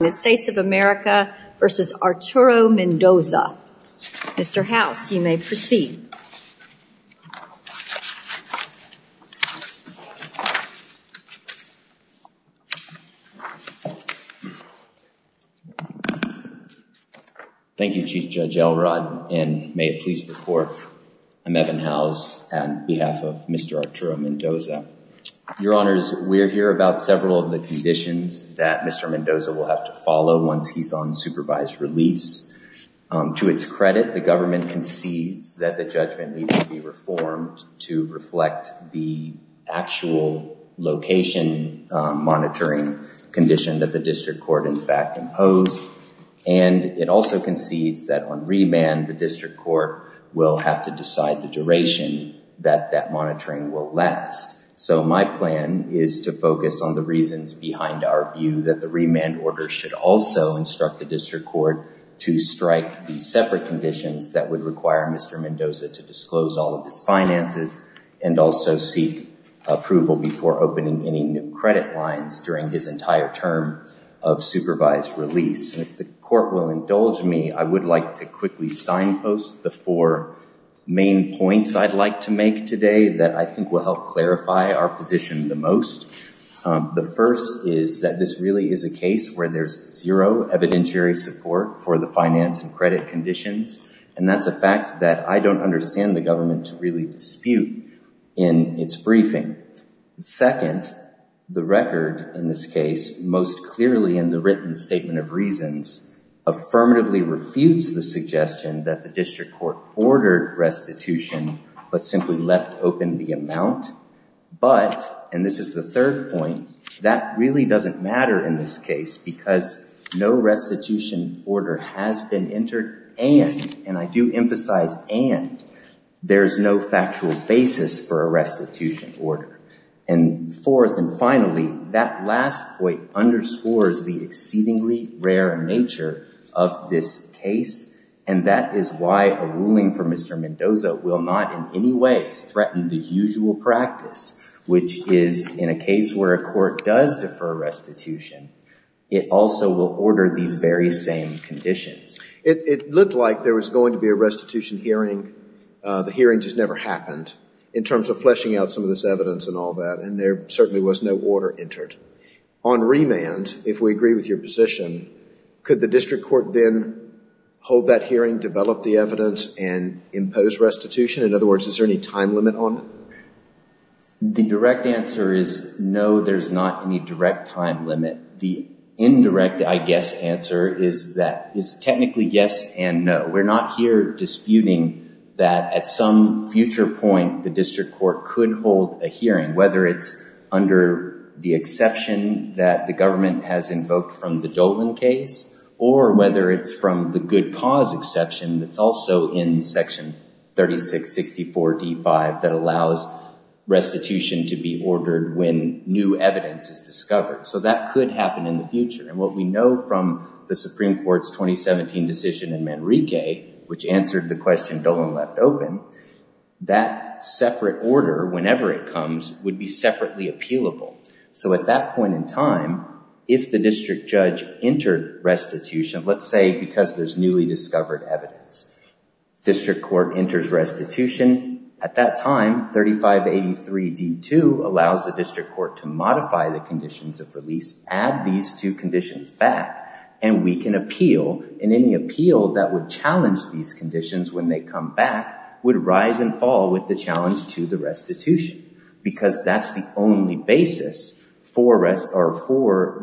United States of America v. Arturo Mendoza. Mr. Howes, you may proceed. Thank you, Chief Judge Elrod, and may it please the Court, I'm Evan Howes on behalf of Mr. Arturo Mendoza. Your Honors, we're here about several of the conditions that Mr. Mendoza will have to follow once he's on supervised release. To its credit, the government concedes that the judgment needs to be reformed to reflect the actual location monitoring condition that the District Court, in fact, imposed. And it also concedes that on remand, the District Court will have to decide the duration that that monitoring will last. So my plan is to focus on the reasons behind our view that the remand order should also instruct the District Court to strike the separate conditions that would require Mr. Mendoza to disclose all of his finances and also seek approval before opening any new credit lines during his entire term of supervised release. And if the Court will indulge me, I would like to quickly signpost the four main points I'd like to make today that I think will help clarify our position the most. The first is that this really is a case where there's zero evidentiary support for the finance and credit conditions. And that's a fact that I don't understand the government to really dispute in its briefing. Second, the record in this case, most clearly in the written statement of reasons, affirmatively refused the suggestion that the District Court ordered restitution, but simply left open the amount. But, and this is the third point, that really doesn't matter in this case because no restitution order has been entered and, and I do emphasize and, there's no factual basis for a restitution order. And fourth and finally, that last point underscores the exceedingly rare nature of this case and that is why a ruling from Mr. Mendoza will not in any way threaten the usual practice, which is in a case where a court does defer restitution, it also will order these very same conditions. It looked like there was going to be a restitution hearing. The hearing just never happened in terms of fleshing out some of this evidence and all that and there certainly was no order entered. On remand, if we agree with your position, could the District Court then hold that hearing, develop the evidence and impose restitution? In other words, is there any time limit on it? The direct answer is no, there's not any direct time limit. The indirect, I guess, answer is that, is technically yes and no. We're not here disputing that at some future point the District Court could hold a hearing, whether it's under the exception that the government has invoked from the Dolan case or whether it's from the good cause exception that's also in section 36-64-D5 that allows restitution to be ordered when new evidence is discovered. So that could happen in the future and what we know from the Supreme Court's 2017 decision in Manrique, which answered the question Dolan left open, that separate order, whenever it comes, would be separately appealable. So at that point in time, if the District Judge entered restitution, let's say because there's newly discovered evidence, District Court enters restitution, at that time 3583-D2 allows the District Court to modify the conditions of release, add these two conditions back, and we can appeal, and any appeal that would challenge these conditions when they come back would rise and fall with the challenge to the restitution because that's the only basis for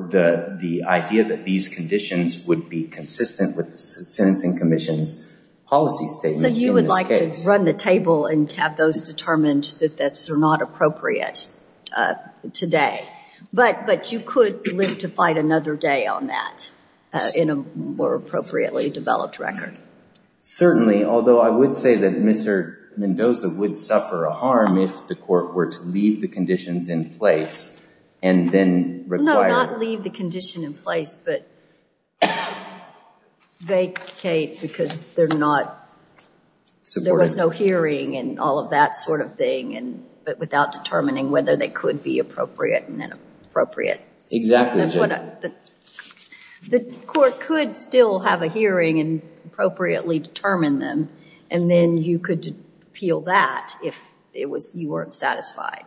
the idea that these conditions would be consistent with the Sentencing Commission's policy statements in this case. So you would like to run the table and have those determined that they're not appropriate today, but you could live to fight another day on that in a more appropriately developed record. Certainly, although I would say that Mr. Mendoza would suffer a harm if the Court were to leave the conditions in place and then require... No, not leave the condition in place, but vacate because there was no hearing and all that sort of thing, but without determining whether they could be appropriate and inappropriate. Exactly. That's what I... The Court could still have a hearing and appropriately determine them, and then you could appeal that if you weren't satisfied.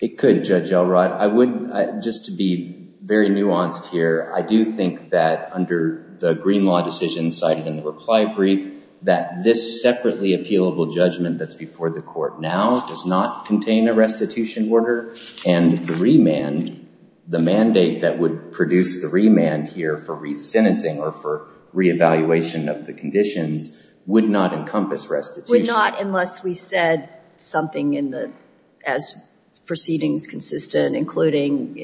It could, Judge Elrod. I would, just to be very nuanced here, I do think that under the Green Law decision cited in the reply brief, that this separately appealable judgment that's before the Court now does not contain a restitution order, and the remand, the mandate that would produce the remand here for re-sentencing or for re-evaluation of the conditions would not encompass restitution. Would not unless we said something in the... As proceedings consistent, including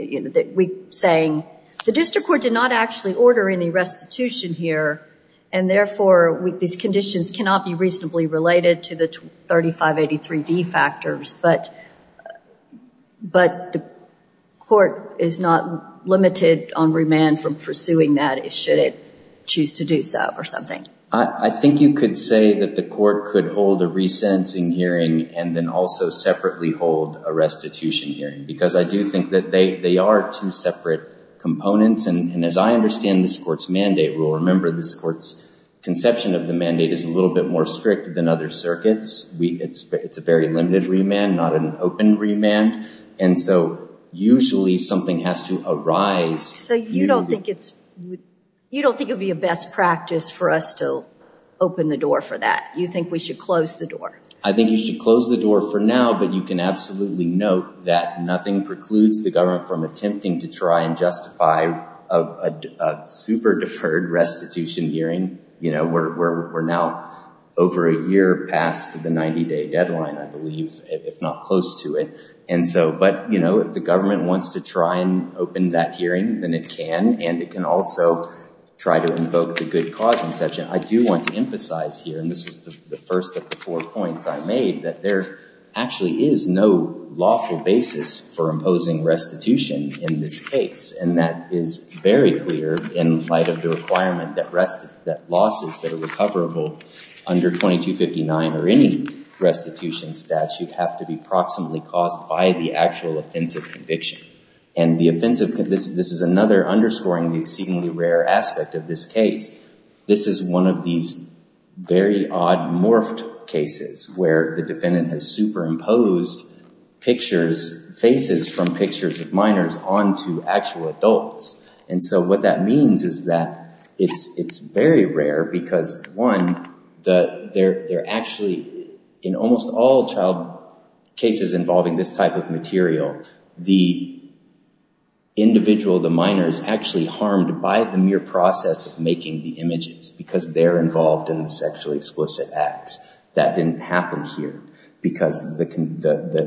saying, the District Court did not actually order any restitution here, and therefore these conditions cannot be reasonably related to the 3583D factors, but the Court is not limited on remand from pursuing that should it choose to do so or something. I think you could say that the Court could hold a re-sentencing hearing and then also separately hold a restitution hearing, because I do think that they are two separate components, and as I understand this Court's mandate, we'll remember this Court's conception of the mandate is a little bit more strict than other circuits. It's a very limited remand, not an open remand, and so usually something has to arise... So you don't think it's... You don't think it would be a best practice for us to open the door for that? You think we should close the door? I think you should close the door for now, but you can absolutely note that nothing precludes the government from attempting to try and justify a super deferred restitution hearing. We're now over a year past the 90-day deadline, I believe, if not close to it, and so... But if the government wants to try and open that hearing, then it can, and it can also try to invoke the good cause conception. I do want to emphasize here, and this was the first of the four points I made, that there actually is no lawful basis for imposing restitution in this case, and that is very clear in light of the requirement that losses that are recoverable under 2259 or any restitution statute have to be proximately caused by the actual offensive conviction. And the offensive... This is another underscoring the exceedingly rare aspect of this case. This is one of these very odd morphed cases where the defendant has superimposed pictures, faces from pictures of minors onto actual adults. And so what that means is that it's very rare because, one, they're actually... In almost all child cases involving this type of material, the individual, the minor, is actually harmed by the mere process of making the images because they're involved in the sexually explicit acts. That didn't happen here because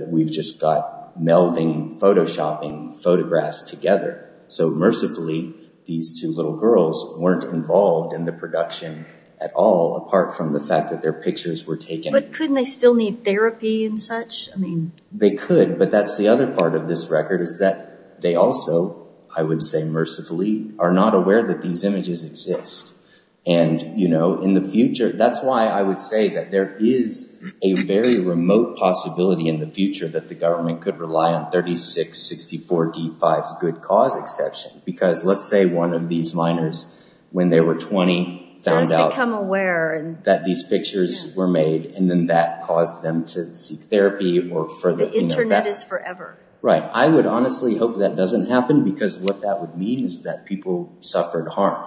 we've just got melding, photoshopping photographs together. So mercifully, these two little girls weren't involved in the production at all, apart from the fact that their pictures were taken... But couldn't they still need therapy and such? They could, but that's the other part of this record is that they also, I would say mercifully, are not aware that these images exist. And in the future... That's why I would say that there is a very remote possibility in the future that the government could rely on 3664D5's good cause exception. Because let's say one of these minors, when they were 20, found out that these pictures were made and then that caused them to seek therapy or further... The internet is forever. Right. I would honestly hope that doesn't happen because what that would mean is that people suffered harm.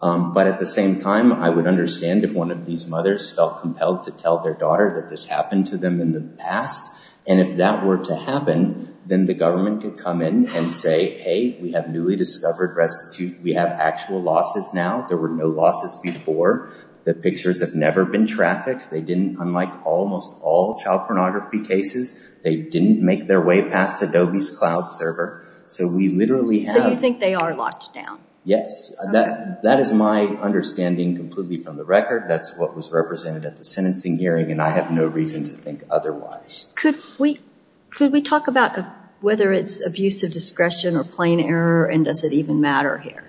But at the same time, I would understand if one of these mothers felt compelled to tell their daughter that this happened to them in the past. And if that were to happen, then the government could come in and say, hey, we have newly discovered restitute. We have actual losses now. There were no losses before. The pictures have never been trafficked. They didn't... Unlike almost all child pornography cases, they didn't make their way past Adobe's cloud server. So we literally have... So you think they are locked down? Yes. That is my understanding completely from the record. That's what was represented at the sentencing hearing. And I have no reason to think otherwise. Could we talk about whether it's abuse of discretion or plain error and does it even matter here?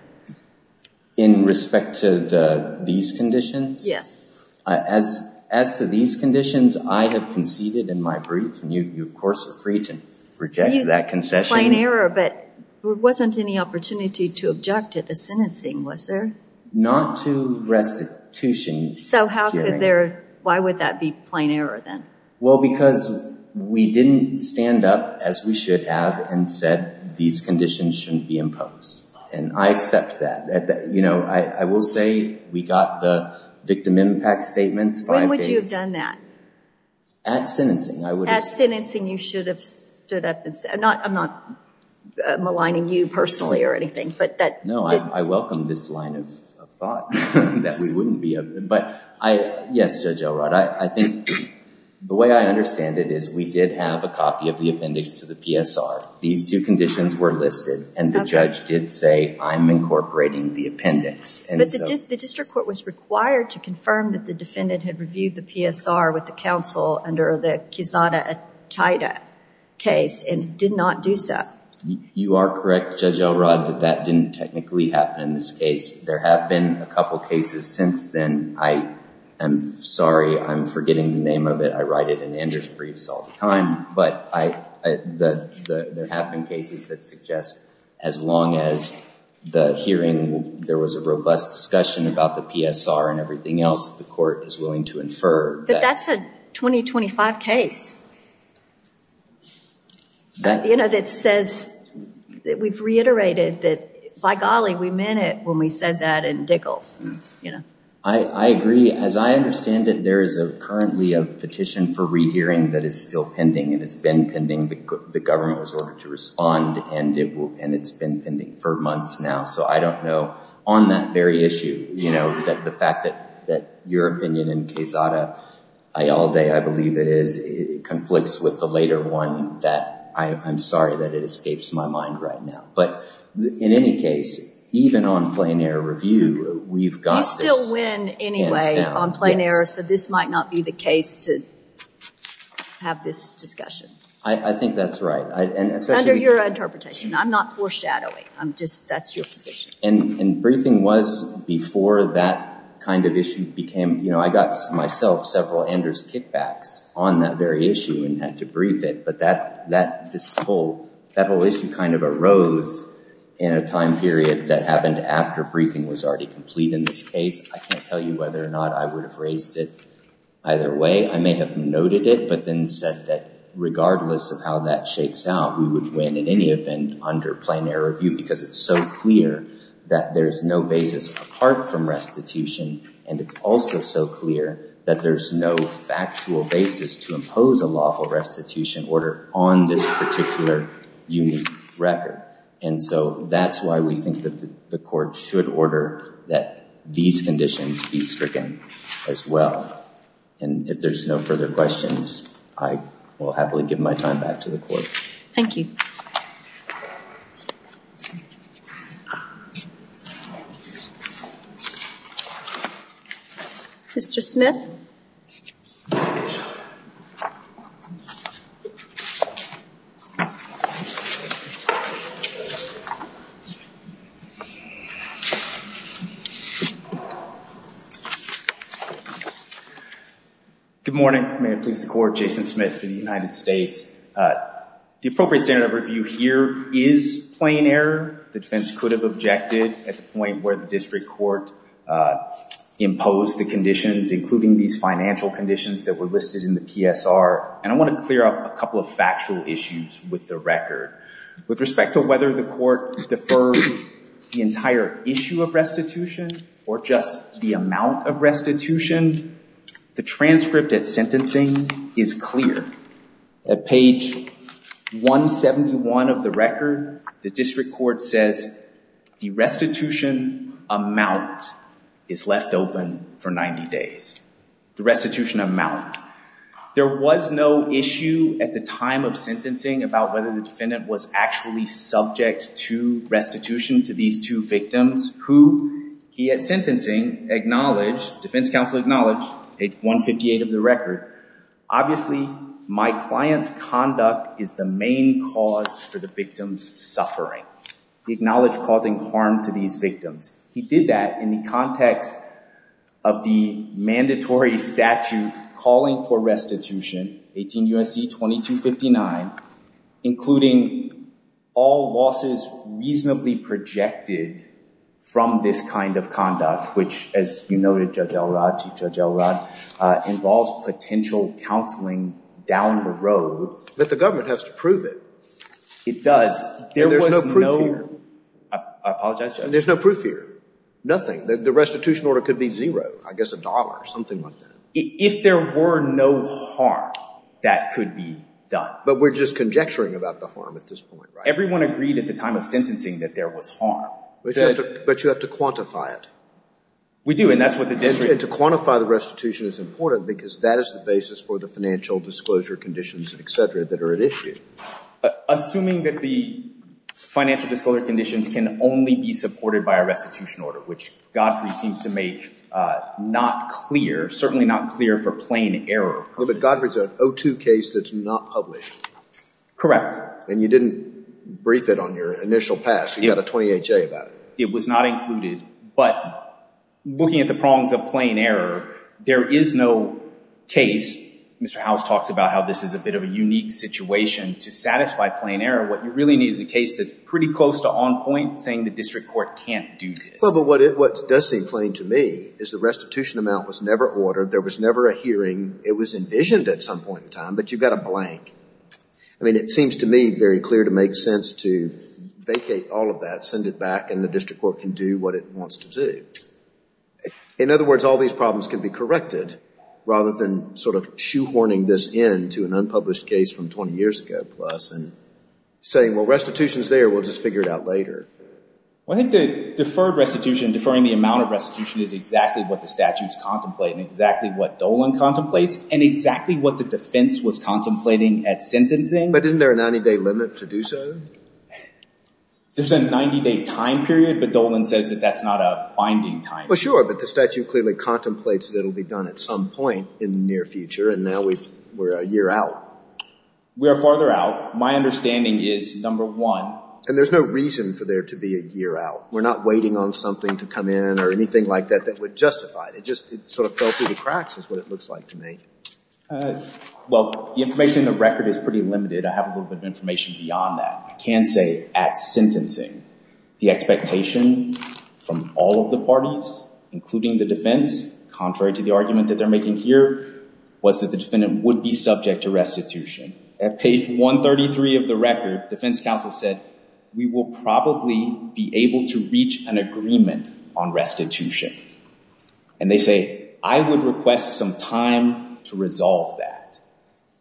In respect to these conditions? Yes. As to these conditions, I have conceded in my brief and you, of course, are free to reject that concession. Plain error, but there wasn't any opportunity to object at the sentencing, was there? Not to restitution hearing. So how could there... Why would that be plain error then? Well, because we didn't stand up as we should have and said these conditions shouldn't be imposed. And I accept that. I will say we got the victim impact statements five days... When would you have done that? At sentencing, I would have... At sentencing, you should have stood up and said... I'm not maligning you personally or anything, but that... No, I welcome this line of thought that we wouldn't be... But yes, Judge Elrod, I think the way I understand it is we did have a copy of the appendix to the PSR. These two conditions were listed and the judge did say, I'm incorporating the appendix. But the district court was required to confirm that the defendant had reviewed the PSR with the counsel under the Kizada-Ataida case and did not do so. You are correct, Judge Elrod, that that didn't technically happen in this case. There have been a couple of cases since then. I am sorry, I'm forgetting the name of it. I write it in Andrew's briefs all the time. But there have been cases that suggest as long as the hearing, there was a robust discussion about the PSR and everything else, the court is willing to infer that... That's a 2025 case that says... We've reiterated that, by golly, we meant it when we said that in Dickels. I agree. As I understand it, there is currently a petition for re-hearing that is still pending and has been pending. The government was ordered to respond and it's been pending for months now. So I don't know. On that very issue, you know, the fact that your opinion in Kizada-Aida, I believe it is, conflicts with the later one. I'm sorry that it escapes my mind right now. But in any case, even on plain error review, we've got this. You still win anyway on plain error, so this might not be the case to have this discussion. I think that's right. Under your interpretation. I'm not foreshadowing. That's your position. Briefing was before that kind of issue became... You know, I got myself several Anders kickbacks on that very issue and had to brief it. But that whole issue kind of arose in a time period that happened after briefing was already complete in this case. I can't tell you whether or not I would have raised it either way. I may have noted it, but then said that regardless of how that shakes out, we would win in any event under plain error review because it's so clear that there's no basis apart from restitution. And it's also so clear that there's no factual basis to impose a lawful restitution order on this particular unique record. And so that's why we think that the court should order that these conditions be stricken as well. And if there's no further questions, I will happily give my time back to the court. Thank you. Mr. Smith? Good morning. May it please the court, Jason Smith for the United States. The appropriate standard of review here is plain error. The defense could have objected at the point where the district court imposed the conditions, including these financial conditions that were listed in the PSR. And I want to clear up a couple of factual issues with the record. With respect to whether the court deferred the entire issue of restitution or just the amount of restitution, the transcript at sentencing is clear. At page 171 of the record, the district court says the restitution amount is left open for 90 days. The restitution amount. There was no issue at the time of sentencing about whether the defendant was actually subject to restitution to these two victims who he at sentencing acknowledged, defense counsel acknowledged, page 158 of the record. Obviously, my client's conduct is the main cause for the victim's suffering. He acknowledged causing harm to these victims. He did that in the context of the mandatory statute calling for restitution, 18 U.S.C. 2259, including all losses reasonably projected from this kind of conduct, which, as you noted, Judge Elrod, Chief Judge Elrod, involves potential counseling down the road. But the government has to prove it. It does. There was no proof here. I apologize, Judge. There's no proof here. Nothing. The restitution order could be zero, I guess a dollar, something like that. If there were no harm, that could be done. But we're just conjecturing about the harm at this point, right? Everyone agreed at the time of sentencing that there was harm. But you have to quantify it. We do, and that's what the district... And to quantify the restitution is important because that is the basis for the financial disclosure conditions, et cetera, that are at issue. Assuming that the financial disclosure conditions can only be supported by a restitution order, which Godfrey seems to make not clear, certainly not clear for plain error. But Godfrey's an O2 case that's not published. And you didn't brief it on your initial pass. You got a 28-J about it. It was not included. But looking at the prongs of plain error, there is no case, Mr. Howes talks about how this is a bit of a unique situation, to satisfy plain error. What you really need is a case that's pretty close to on point, saying the district court can't do this. Well, but what does seem plain to me is the restitution amount was never ordered. There was never a hearing. It was envisioned at some point in time, but you've got a blank. I mean, it seems to me very clear to make sense to vacate all of that, send it back, and the district court can do what it wants to do. In other words, all these problems can be corrected rather than sort of shoehorning this in to an unpublished case from 20 years ago plus and saying, well, restitution's there. We'll just figure it out later. Well, I think the deferred restitution, deferring the amount of restitution is exactly what the statutes contemplate and exactly what Dolan contemplates and exactly what the defense was contemplating at sentencing. But isn't there a 90-day limit to do so? There's a 90-day time period, but Dolan says that that's not a binding time period. Well, sure, but the statute clearly contemplates that it'll be done at some point in the near future, and now we're a year out. We are farther out. My understanding is, number one And there's no reason for there to be a year out. We're not waiting on something to come in or anything like that that would justify it. It just sort of fell through the cracks is what it looks like to me. Well, the information in the record is pretty limited. I have a little bit of information beyond that. I can say at sentencing, the expectation from all of the parties, including the defense, contrary to the argument that they're making here, was that the defendant would be subject to restitution. At page 133 of the record, defense counsel said, we will probably be able to reach an agreement on restitution. And they say, I would request some time to resolve that.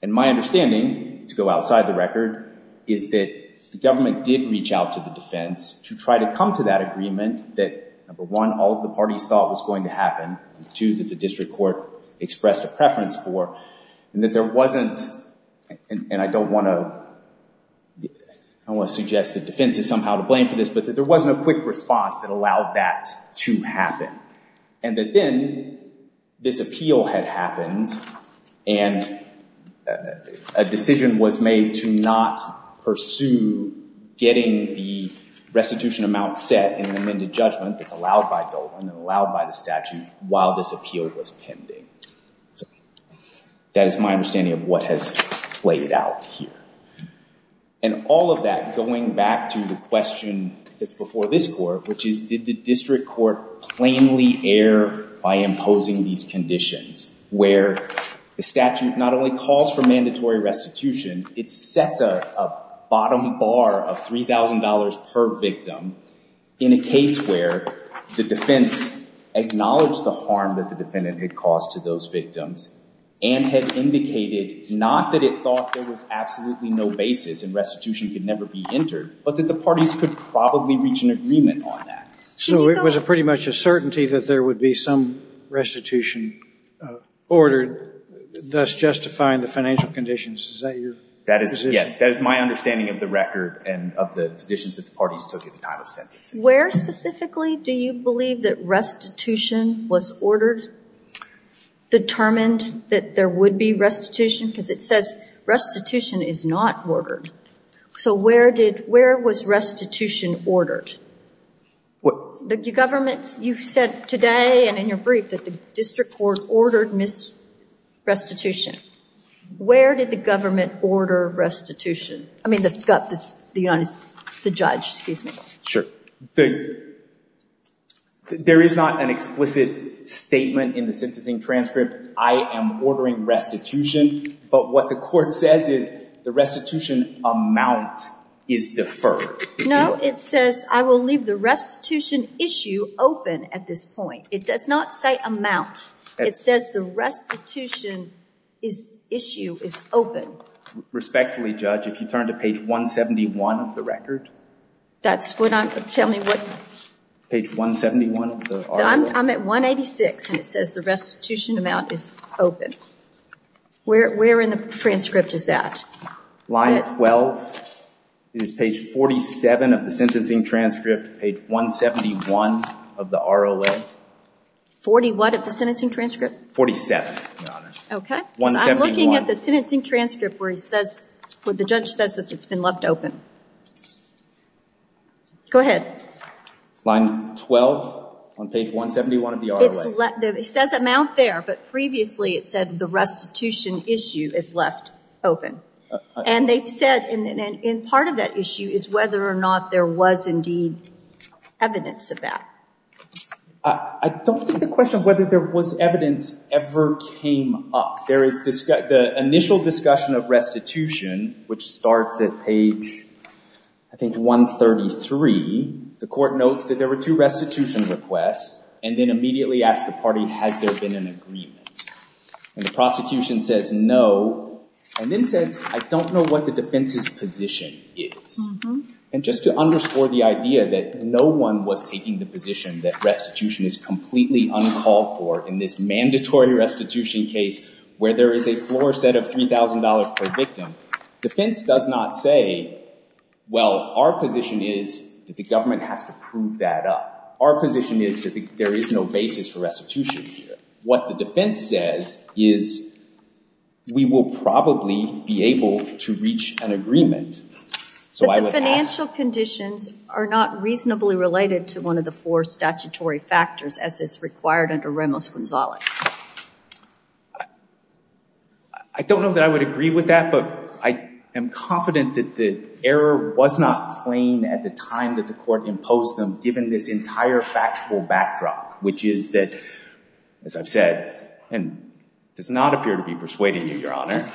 And my understanding, to go outside the record, is that the government did reach out to the defense to try to come to that agreement that, number one, all of the parties thought was going to happen, and two, that the district court expressed a preference for, and that there wasn't, and I don't want to, I don't want to suggest that defense is somehow to blame for this, but that there wasn't a quick response that allowed that to happen. And that then, this appeal had happened, and a decision was made to not pursue getting the restitution amount set in the amended judgment that's allowed by Dolan and allowed by the statute while this appeal was pending. So that is my understanding of what has played out here. And all of that, going back to the question that's before this court, which is, did the district court plainly err by imposing these conditions, where the statute not only calls for mandatory restitution, it sets a bottom bar of $3,000 per victim in a case where the defense acknowledged the harm that the defendant had caused to those victims and had indicated, not that it thought there was absolutely no basis and restitution could never be entered, but that the parties could probably reach an agreement on that. So it was pretty much a certainty that there would be some restitution ordered, thus justifying the financial conditions. Is that your position? That is, yes. That is my understanding of the record and of the positions that the parties took at the time of sentencing. Where specifically do you believe that restitution was ordered, determined that there would be restitution? Because it says restitution is not ordered. So where was restitution ordered? You said today and in your brief that the district court ordered restitution. Where did the government order restitution? I mean, the judge, excuse me. There is not an explicit statement in the sentencing transcript, I am ordering restitution, but what the court says is the restitution amount is deferred. No, it says I will leave the restitution issue open at this point. It does not say amount. It says the restitution issue is open. Respectfully, Judge, if you turn to page 171 of the record. That's what I'm, tell me what? Page 171 of the RLA. I'm at 186 and it says the restitution amount is open. Where in the transcript is that? Line 12 is page 47 of the sentencing transcript, page 171 of the RLA. 41 of the sentencing transcript? 47, Your Honor. Okay. Because I'm looking at the sentencing transcript where he says, where the judge says that it's been left open. Go ahead. Line 12 on page 171 of the RLA. It says amount there, but previously it said the restitution issue is left open. And they've said, and part of that issue is whether or not there was indeed evidence of that. I don't think the question of whether there was evidence ever came up. The initial discussion of restitution, which starts at page, I think 133, the court notes that there were two restitution requests and then immediately asked the party, has there been an agreement? And the prosecution says, no, and then says, I don't know what the defense's position is. And just to underscore the idea that no one was taking the position that restitution is completely uncalled for in this mandatory restitution case where there is a floor set of $3,000 per victim, defense does not say, well, our position is that the government has to prove that up. Our position is that there is no basis for restitution here. What the defense says is, we will probably be able to reach an agreement. So I would ask- But the financial conditions are not reasonably related to one of the four statutory factors as is required under Ramos-Gonzalez. I don't know that I would agree with that, but I am confident that the error was not plain at the time that the court imposed them, given this entire factual backdrop, which is that, as I've said, and does not appear to be persuading you, Your Honor,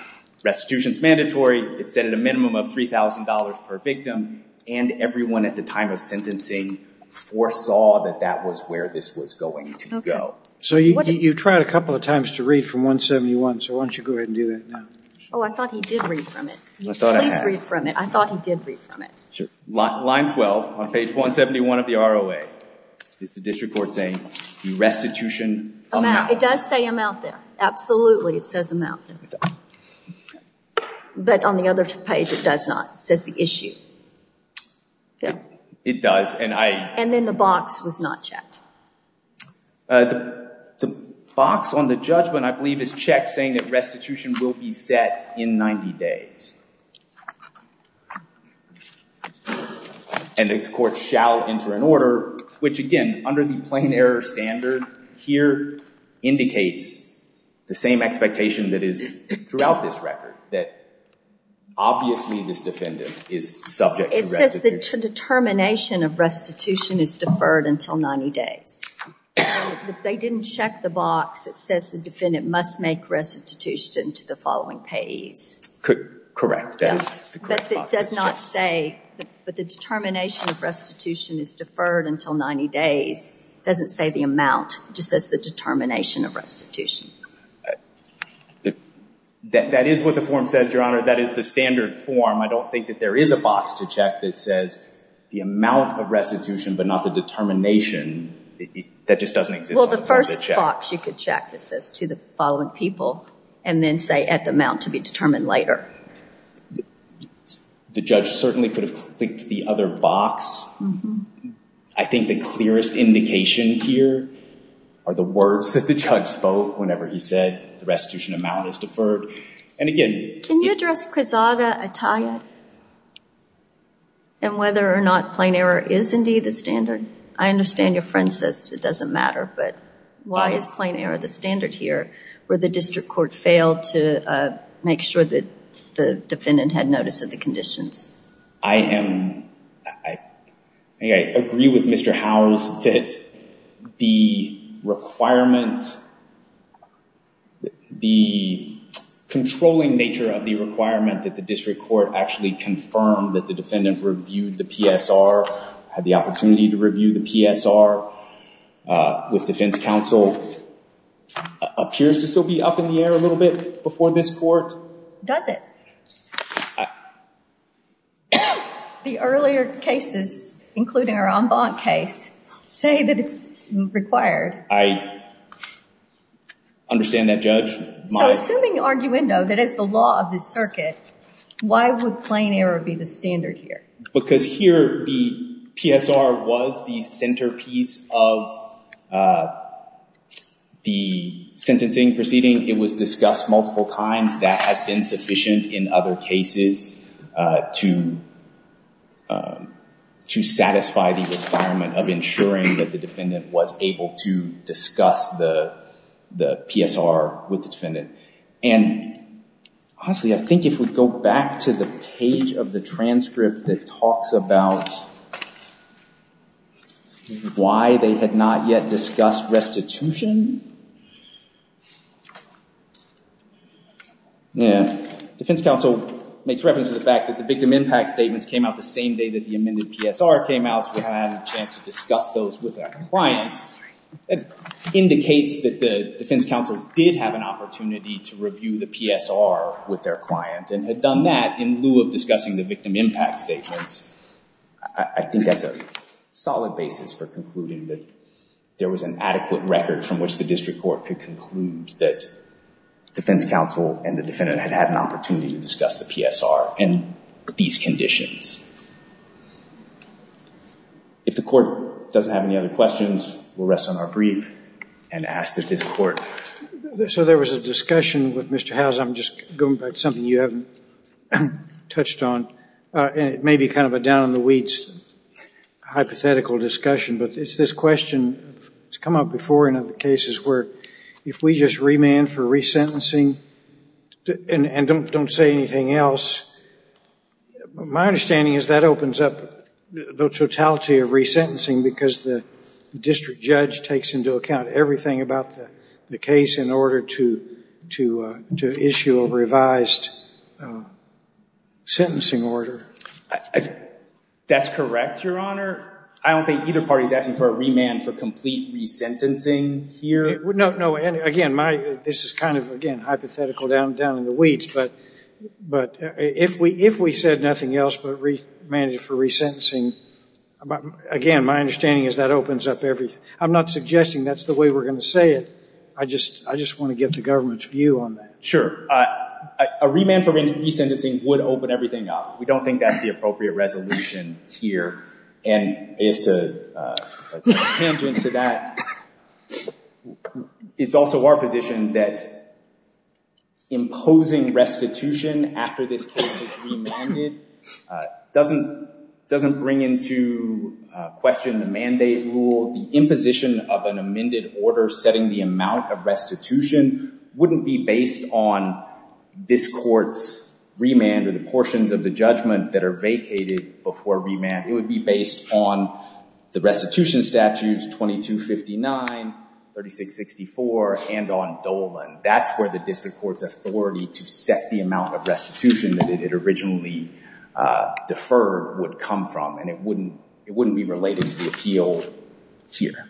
restitution is mandatory. It's set at a minimum of $3,000 per victim, and everyone at the time of sentencing foresaw that that was where this was going to go. So you tried a couple of times to read from 171, so why don't you go ahead and do that now? Oh, I thought he did read from it. I thought I had. Please read from it. I thought he did read from it. Sure. Line 12, on page 171 of the ROA, is the district court saying, the restitution- Amount. It does say amount there. Absolutely, it says amount there. But on the other page, it does not. It says the issue. It does, and I- And then the box was not checked. The box on the judgment, I believe, is checked, saying that restitution will be set in 90 days. And the court shall enter an order, which, again, under the plain error standard here indicates the same expectation that is throughout this record, that obviously this defendant is subject to restitution. But the determination of restitution is deferred until 90 days. If they didn't check the box, it says the defendant must make restitution to the following payees. Correct. That is the correct box. But it does not say, but the determination of restitution is deferred until 90 days, doesn't say the amount. It just says the determination of restitution. That is what the form says, Your Honor. That is the standard form. I don't think that there is a box to check that says the amount of restitution, but not the determination. That just doesn't exist. Well, the first box you could check that says to the following people, and then say at the amount to be determined later. The judge certainly could have clicked the other box. I think the clearest indication here are the words that the judge spoke whenever he said the restitution amount is deferred. And again- Can you address Quezada, Ataya, and whether or not plain error is indeed the standard? I understand your friend says it doesn't matter, but why is plain error the standard here where the district court failed to make sure that the defendant had notice of the conditions? I agree with Mr. Howells that the requirement, the controlling nature of the requirement that the district court actually confirmed that the defendant reviewed the PSR, had the opportunity to review the PSR with defense counsel, appears to still be up in the air a little bit before this court. Does it? The earlier cases, including our en banc case, say that it's required. I understand that, Judge. So assuming arguendo, that is the law of the circuit, why would plain error be the standard here? Because here the PSR was the centerpiece of the sentencing proceeding. It was discussed multiple times. That has been sufficient in other cases to satisfy the requirement of ensuring that the defendant was able to discuss the PSR with the defendant. And honestly, I think if we go back to the page of the transcript that talks about why they had not yet discussed restitution, defense counsel makes reference to the fact that the victim impact statements came out the same day that the amended PSR came out, so we haven't had a chance to discuss those with our clients. It indicates that the defense counsel did have an opportunity to review the PSR with their client and had done that in lieu of discussing the victim impact statements. I think that's a solid basis for concluding that there was an adequate record from which the district court could conclude that defense counsel and the defendant had had an opportunity to discuss the PSR in these conditions. If the court doesn't have any other questions, we'll rest on our brief and ask that this court... So there was a discussion with Mr. Howes, I'm just going by something you haven't touched on, and it may be kind of a down-on-the-weeds hypothetical discussion, but it's this question that's come up before in other cases where if we just remand for resentencing and don't say anything else, my understanding is that opens up the totality of resentencing because the district judge takes into account everything about the case in order to issue a revised sentencing order. That's correct, Your Honor. I don't think either party is asking for a remand for complete resentencing here. No, no. Again, this is kind of hypothetical, down-on-the-weeds, but if we said nothing else but remanded for resentencing, again, my understanding is that opens up everything. I'm not suggesting that's the way we're going to say it. I just want to get the government's view on that. Sure. Sure. A remand for resentencing would open everything up. We don't think that's the appropriate resolution here, and it's also our position that imposing restitution after this case is remanded doesn't bring into question the mandate rule, the position of an amended order setting the amount of restitution wouldn't be based on this court's remand or the portions of the judgment that are vacated before remand. It would be based on the restitution statutes 2259, 3664, and on Dolan. That's where the district court's authority to set the amount of restitution that it originally deferred would come from, and it wouldn't be related to the appeal here.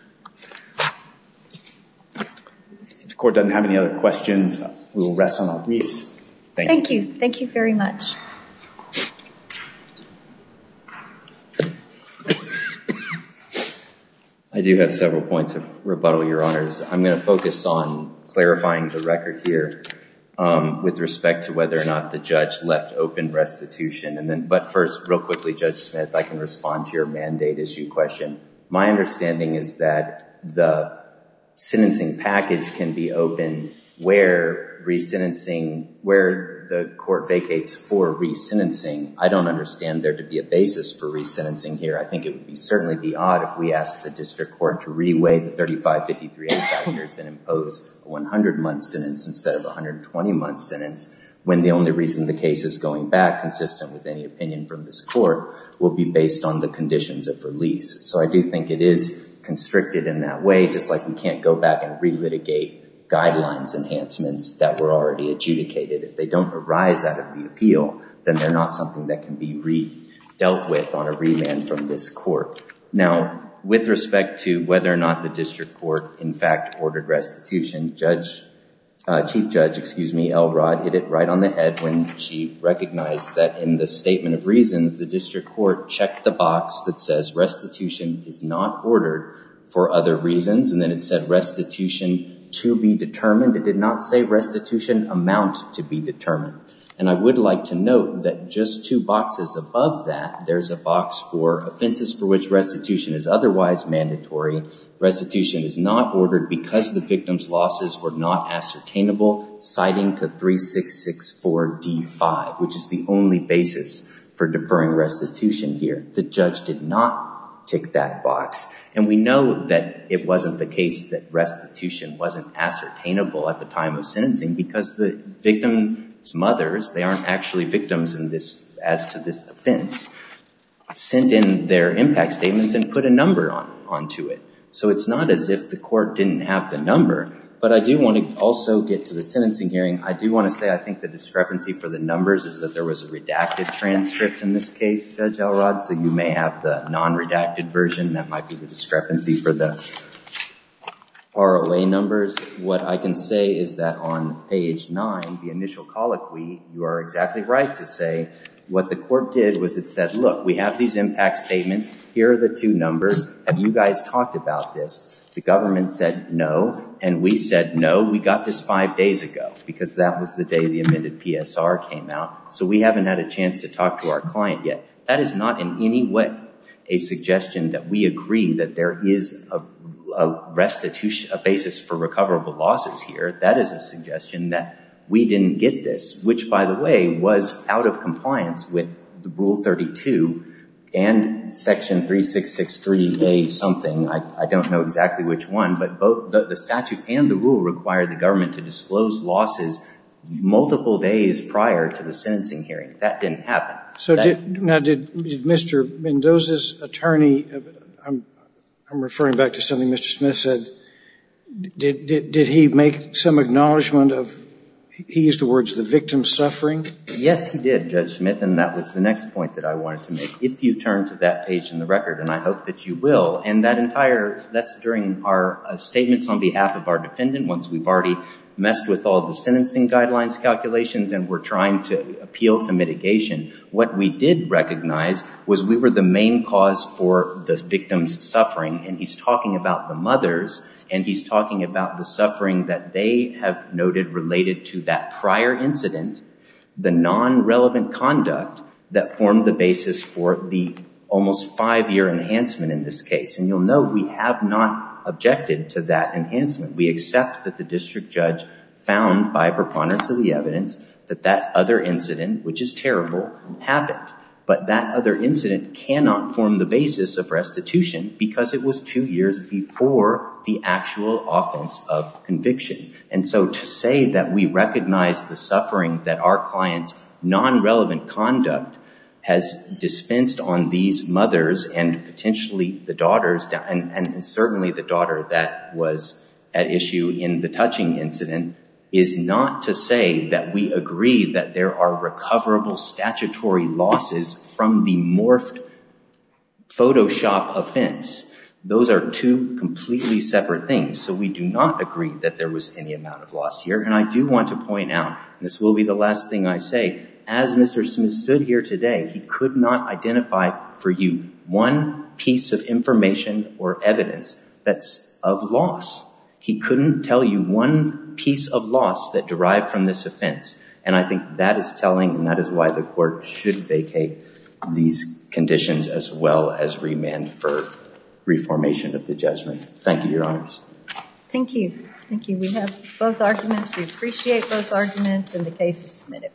If the court doesn't have any other questions, we will rest on our knees. Thank you. Thank you very much. I do have several points of rebuttal, Your Honors. I'm going to focus on clarifying the record here with respect to whether or not the judge left open restitution, but first, real quickly, Judge Smith, I can respond to your mandate issue question. My understanding is that the sentencing package can be open where the court vacates for resentencing. I don't understand there to be a basis for resentencing here. I think it would certainly be odd if we asked the district court to reweigh the 3553-85 years and impose a 100-month sentence instead of a 120-month sentence when the only reason the case is going back consistent with any opinion from this court will be based on the conditions of release. I do think it is constricted in that way, just like we can't go back and re-litigate guidelines enhancements that were already adjudicated. If they don't arise out of the appeal, then they're not something that can be re-dealt with on a remand from this court. With respect to whether or not the district court, in fact, ordered restitution, Chief Judge Elrod hit it right on the head when she recognized that in the Statement of Reasons, the district court checked the box that says restitution is not ordered for other reasons and then it said restitution to be determined. It did not say restitution amount to be determined. I would like to note that just two boxes above that, there's a box for offenses for which restitution is otherwise mandatory. Restitution is not ordered because the victim's losses were not ascertainable, citing to 3664 D5, which is the only basis for deferring restitution here. The judge did not tick that box. And we know that it wasn't the case that restitution wasn't ascertainable at the time of sentencing because the victim's mothers, they aren't actually victims as to this offense, sent in their impact statements and put a number onto it. So it's not as if the court didn't have the number. But I do want to also get to the sentencing hearing. I do want to say I think the discrepancy for the numbers is that there was a redacted transcript in this case, Judge Elrod, so you may have the non-redacted version. That might be the discrepancy for the ROA numbers. What I can say is that on page nine, the initial colloquy, you are exactly right to say what the court did was it said, look, we have these impact statements. Here are the two numbers. Have you guys talked about this? The government said no. And we said no. We got this five days ago because that was the day the amended PSR came out. So we haven't had a chance to talk to our client yet. That is not in any way a suggestion that we agree that there is a restitution, a basis for recoverable losses here. That is a suggestion that we didn't get this, which, by the way, was out of compliance with Rule 32 and Section 3663A something, I don't know exactly which one, but the statute and the rule required the government to disclose losses multiple days prior to the sentencing hearing. That didn't happen. Now, did Mr. Mendoza's attorney, I'm referring back to something Mr. Smith said, did he make some acknowledgment of, he used the words, the victim's suffering? Yes, he did, Judge Smith, and that was the next point that I wanted to make. If you turn to that page in the record, and I hope that you will, and that entire, that's during our statements on behalf of our defendant once we've already messed with all the sentencing guidelines calculations and we're trying to appeal to mitigation. What we did recognize was we were the main cause for the victim's suffering, and he's talking about the mothers, and he's talking about the suffering that they have noted related to that prior incident, the non-relevant conduct that formed the basis for the almost five-year enhancement in this case, and you'll note we have not objected to that enhancement. We accept that the district judge found by preponderance of the evidence that that other incident, which is terrible, happened, but that other incident cannot form the basis of restitution because it was two years before the actual offense of conviction. And so to say that we recognize the suffering that our client's non-relevant conduct has dispensed on these mothers and potentially the daughters, and certainly the daughter that was at issue in the touching incident, is not to say that we agree that there are recoverable statutory losses from the morphed Photoshop offense. Those are two completely separate things, so we do not agree that there was any amount of loss here. And I do want to point out, and this will be the last thing I say, as Mr. Smith stood here today, he could not identify for you one piece of information or evidence that's of loss. He couldn't tell you one piece of loss that derived from this offense. And I think that is telling, and that is why the court should vacate these conditions as well as remand for reformation of the judgment. Thank you, Your Honor. Thank you. Thank you. We have both arguments. We appreciate both arguments, and the case is submitted.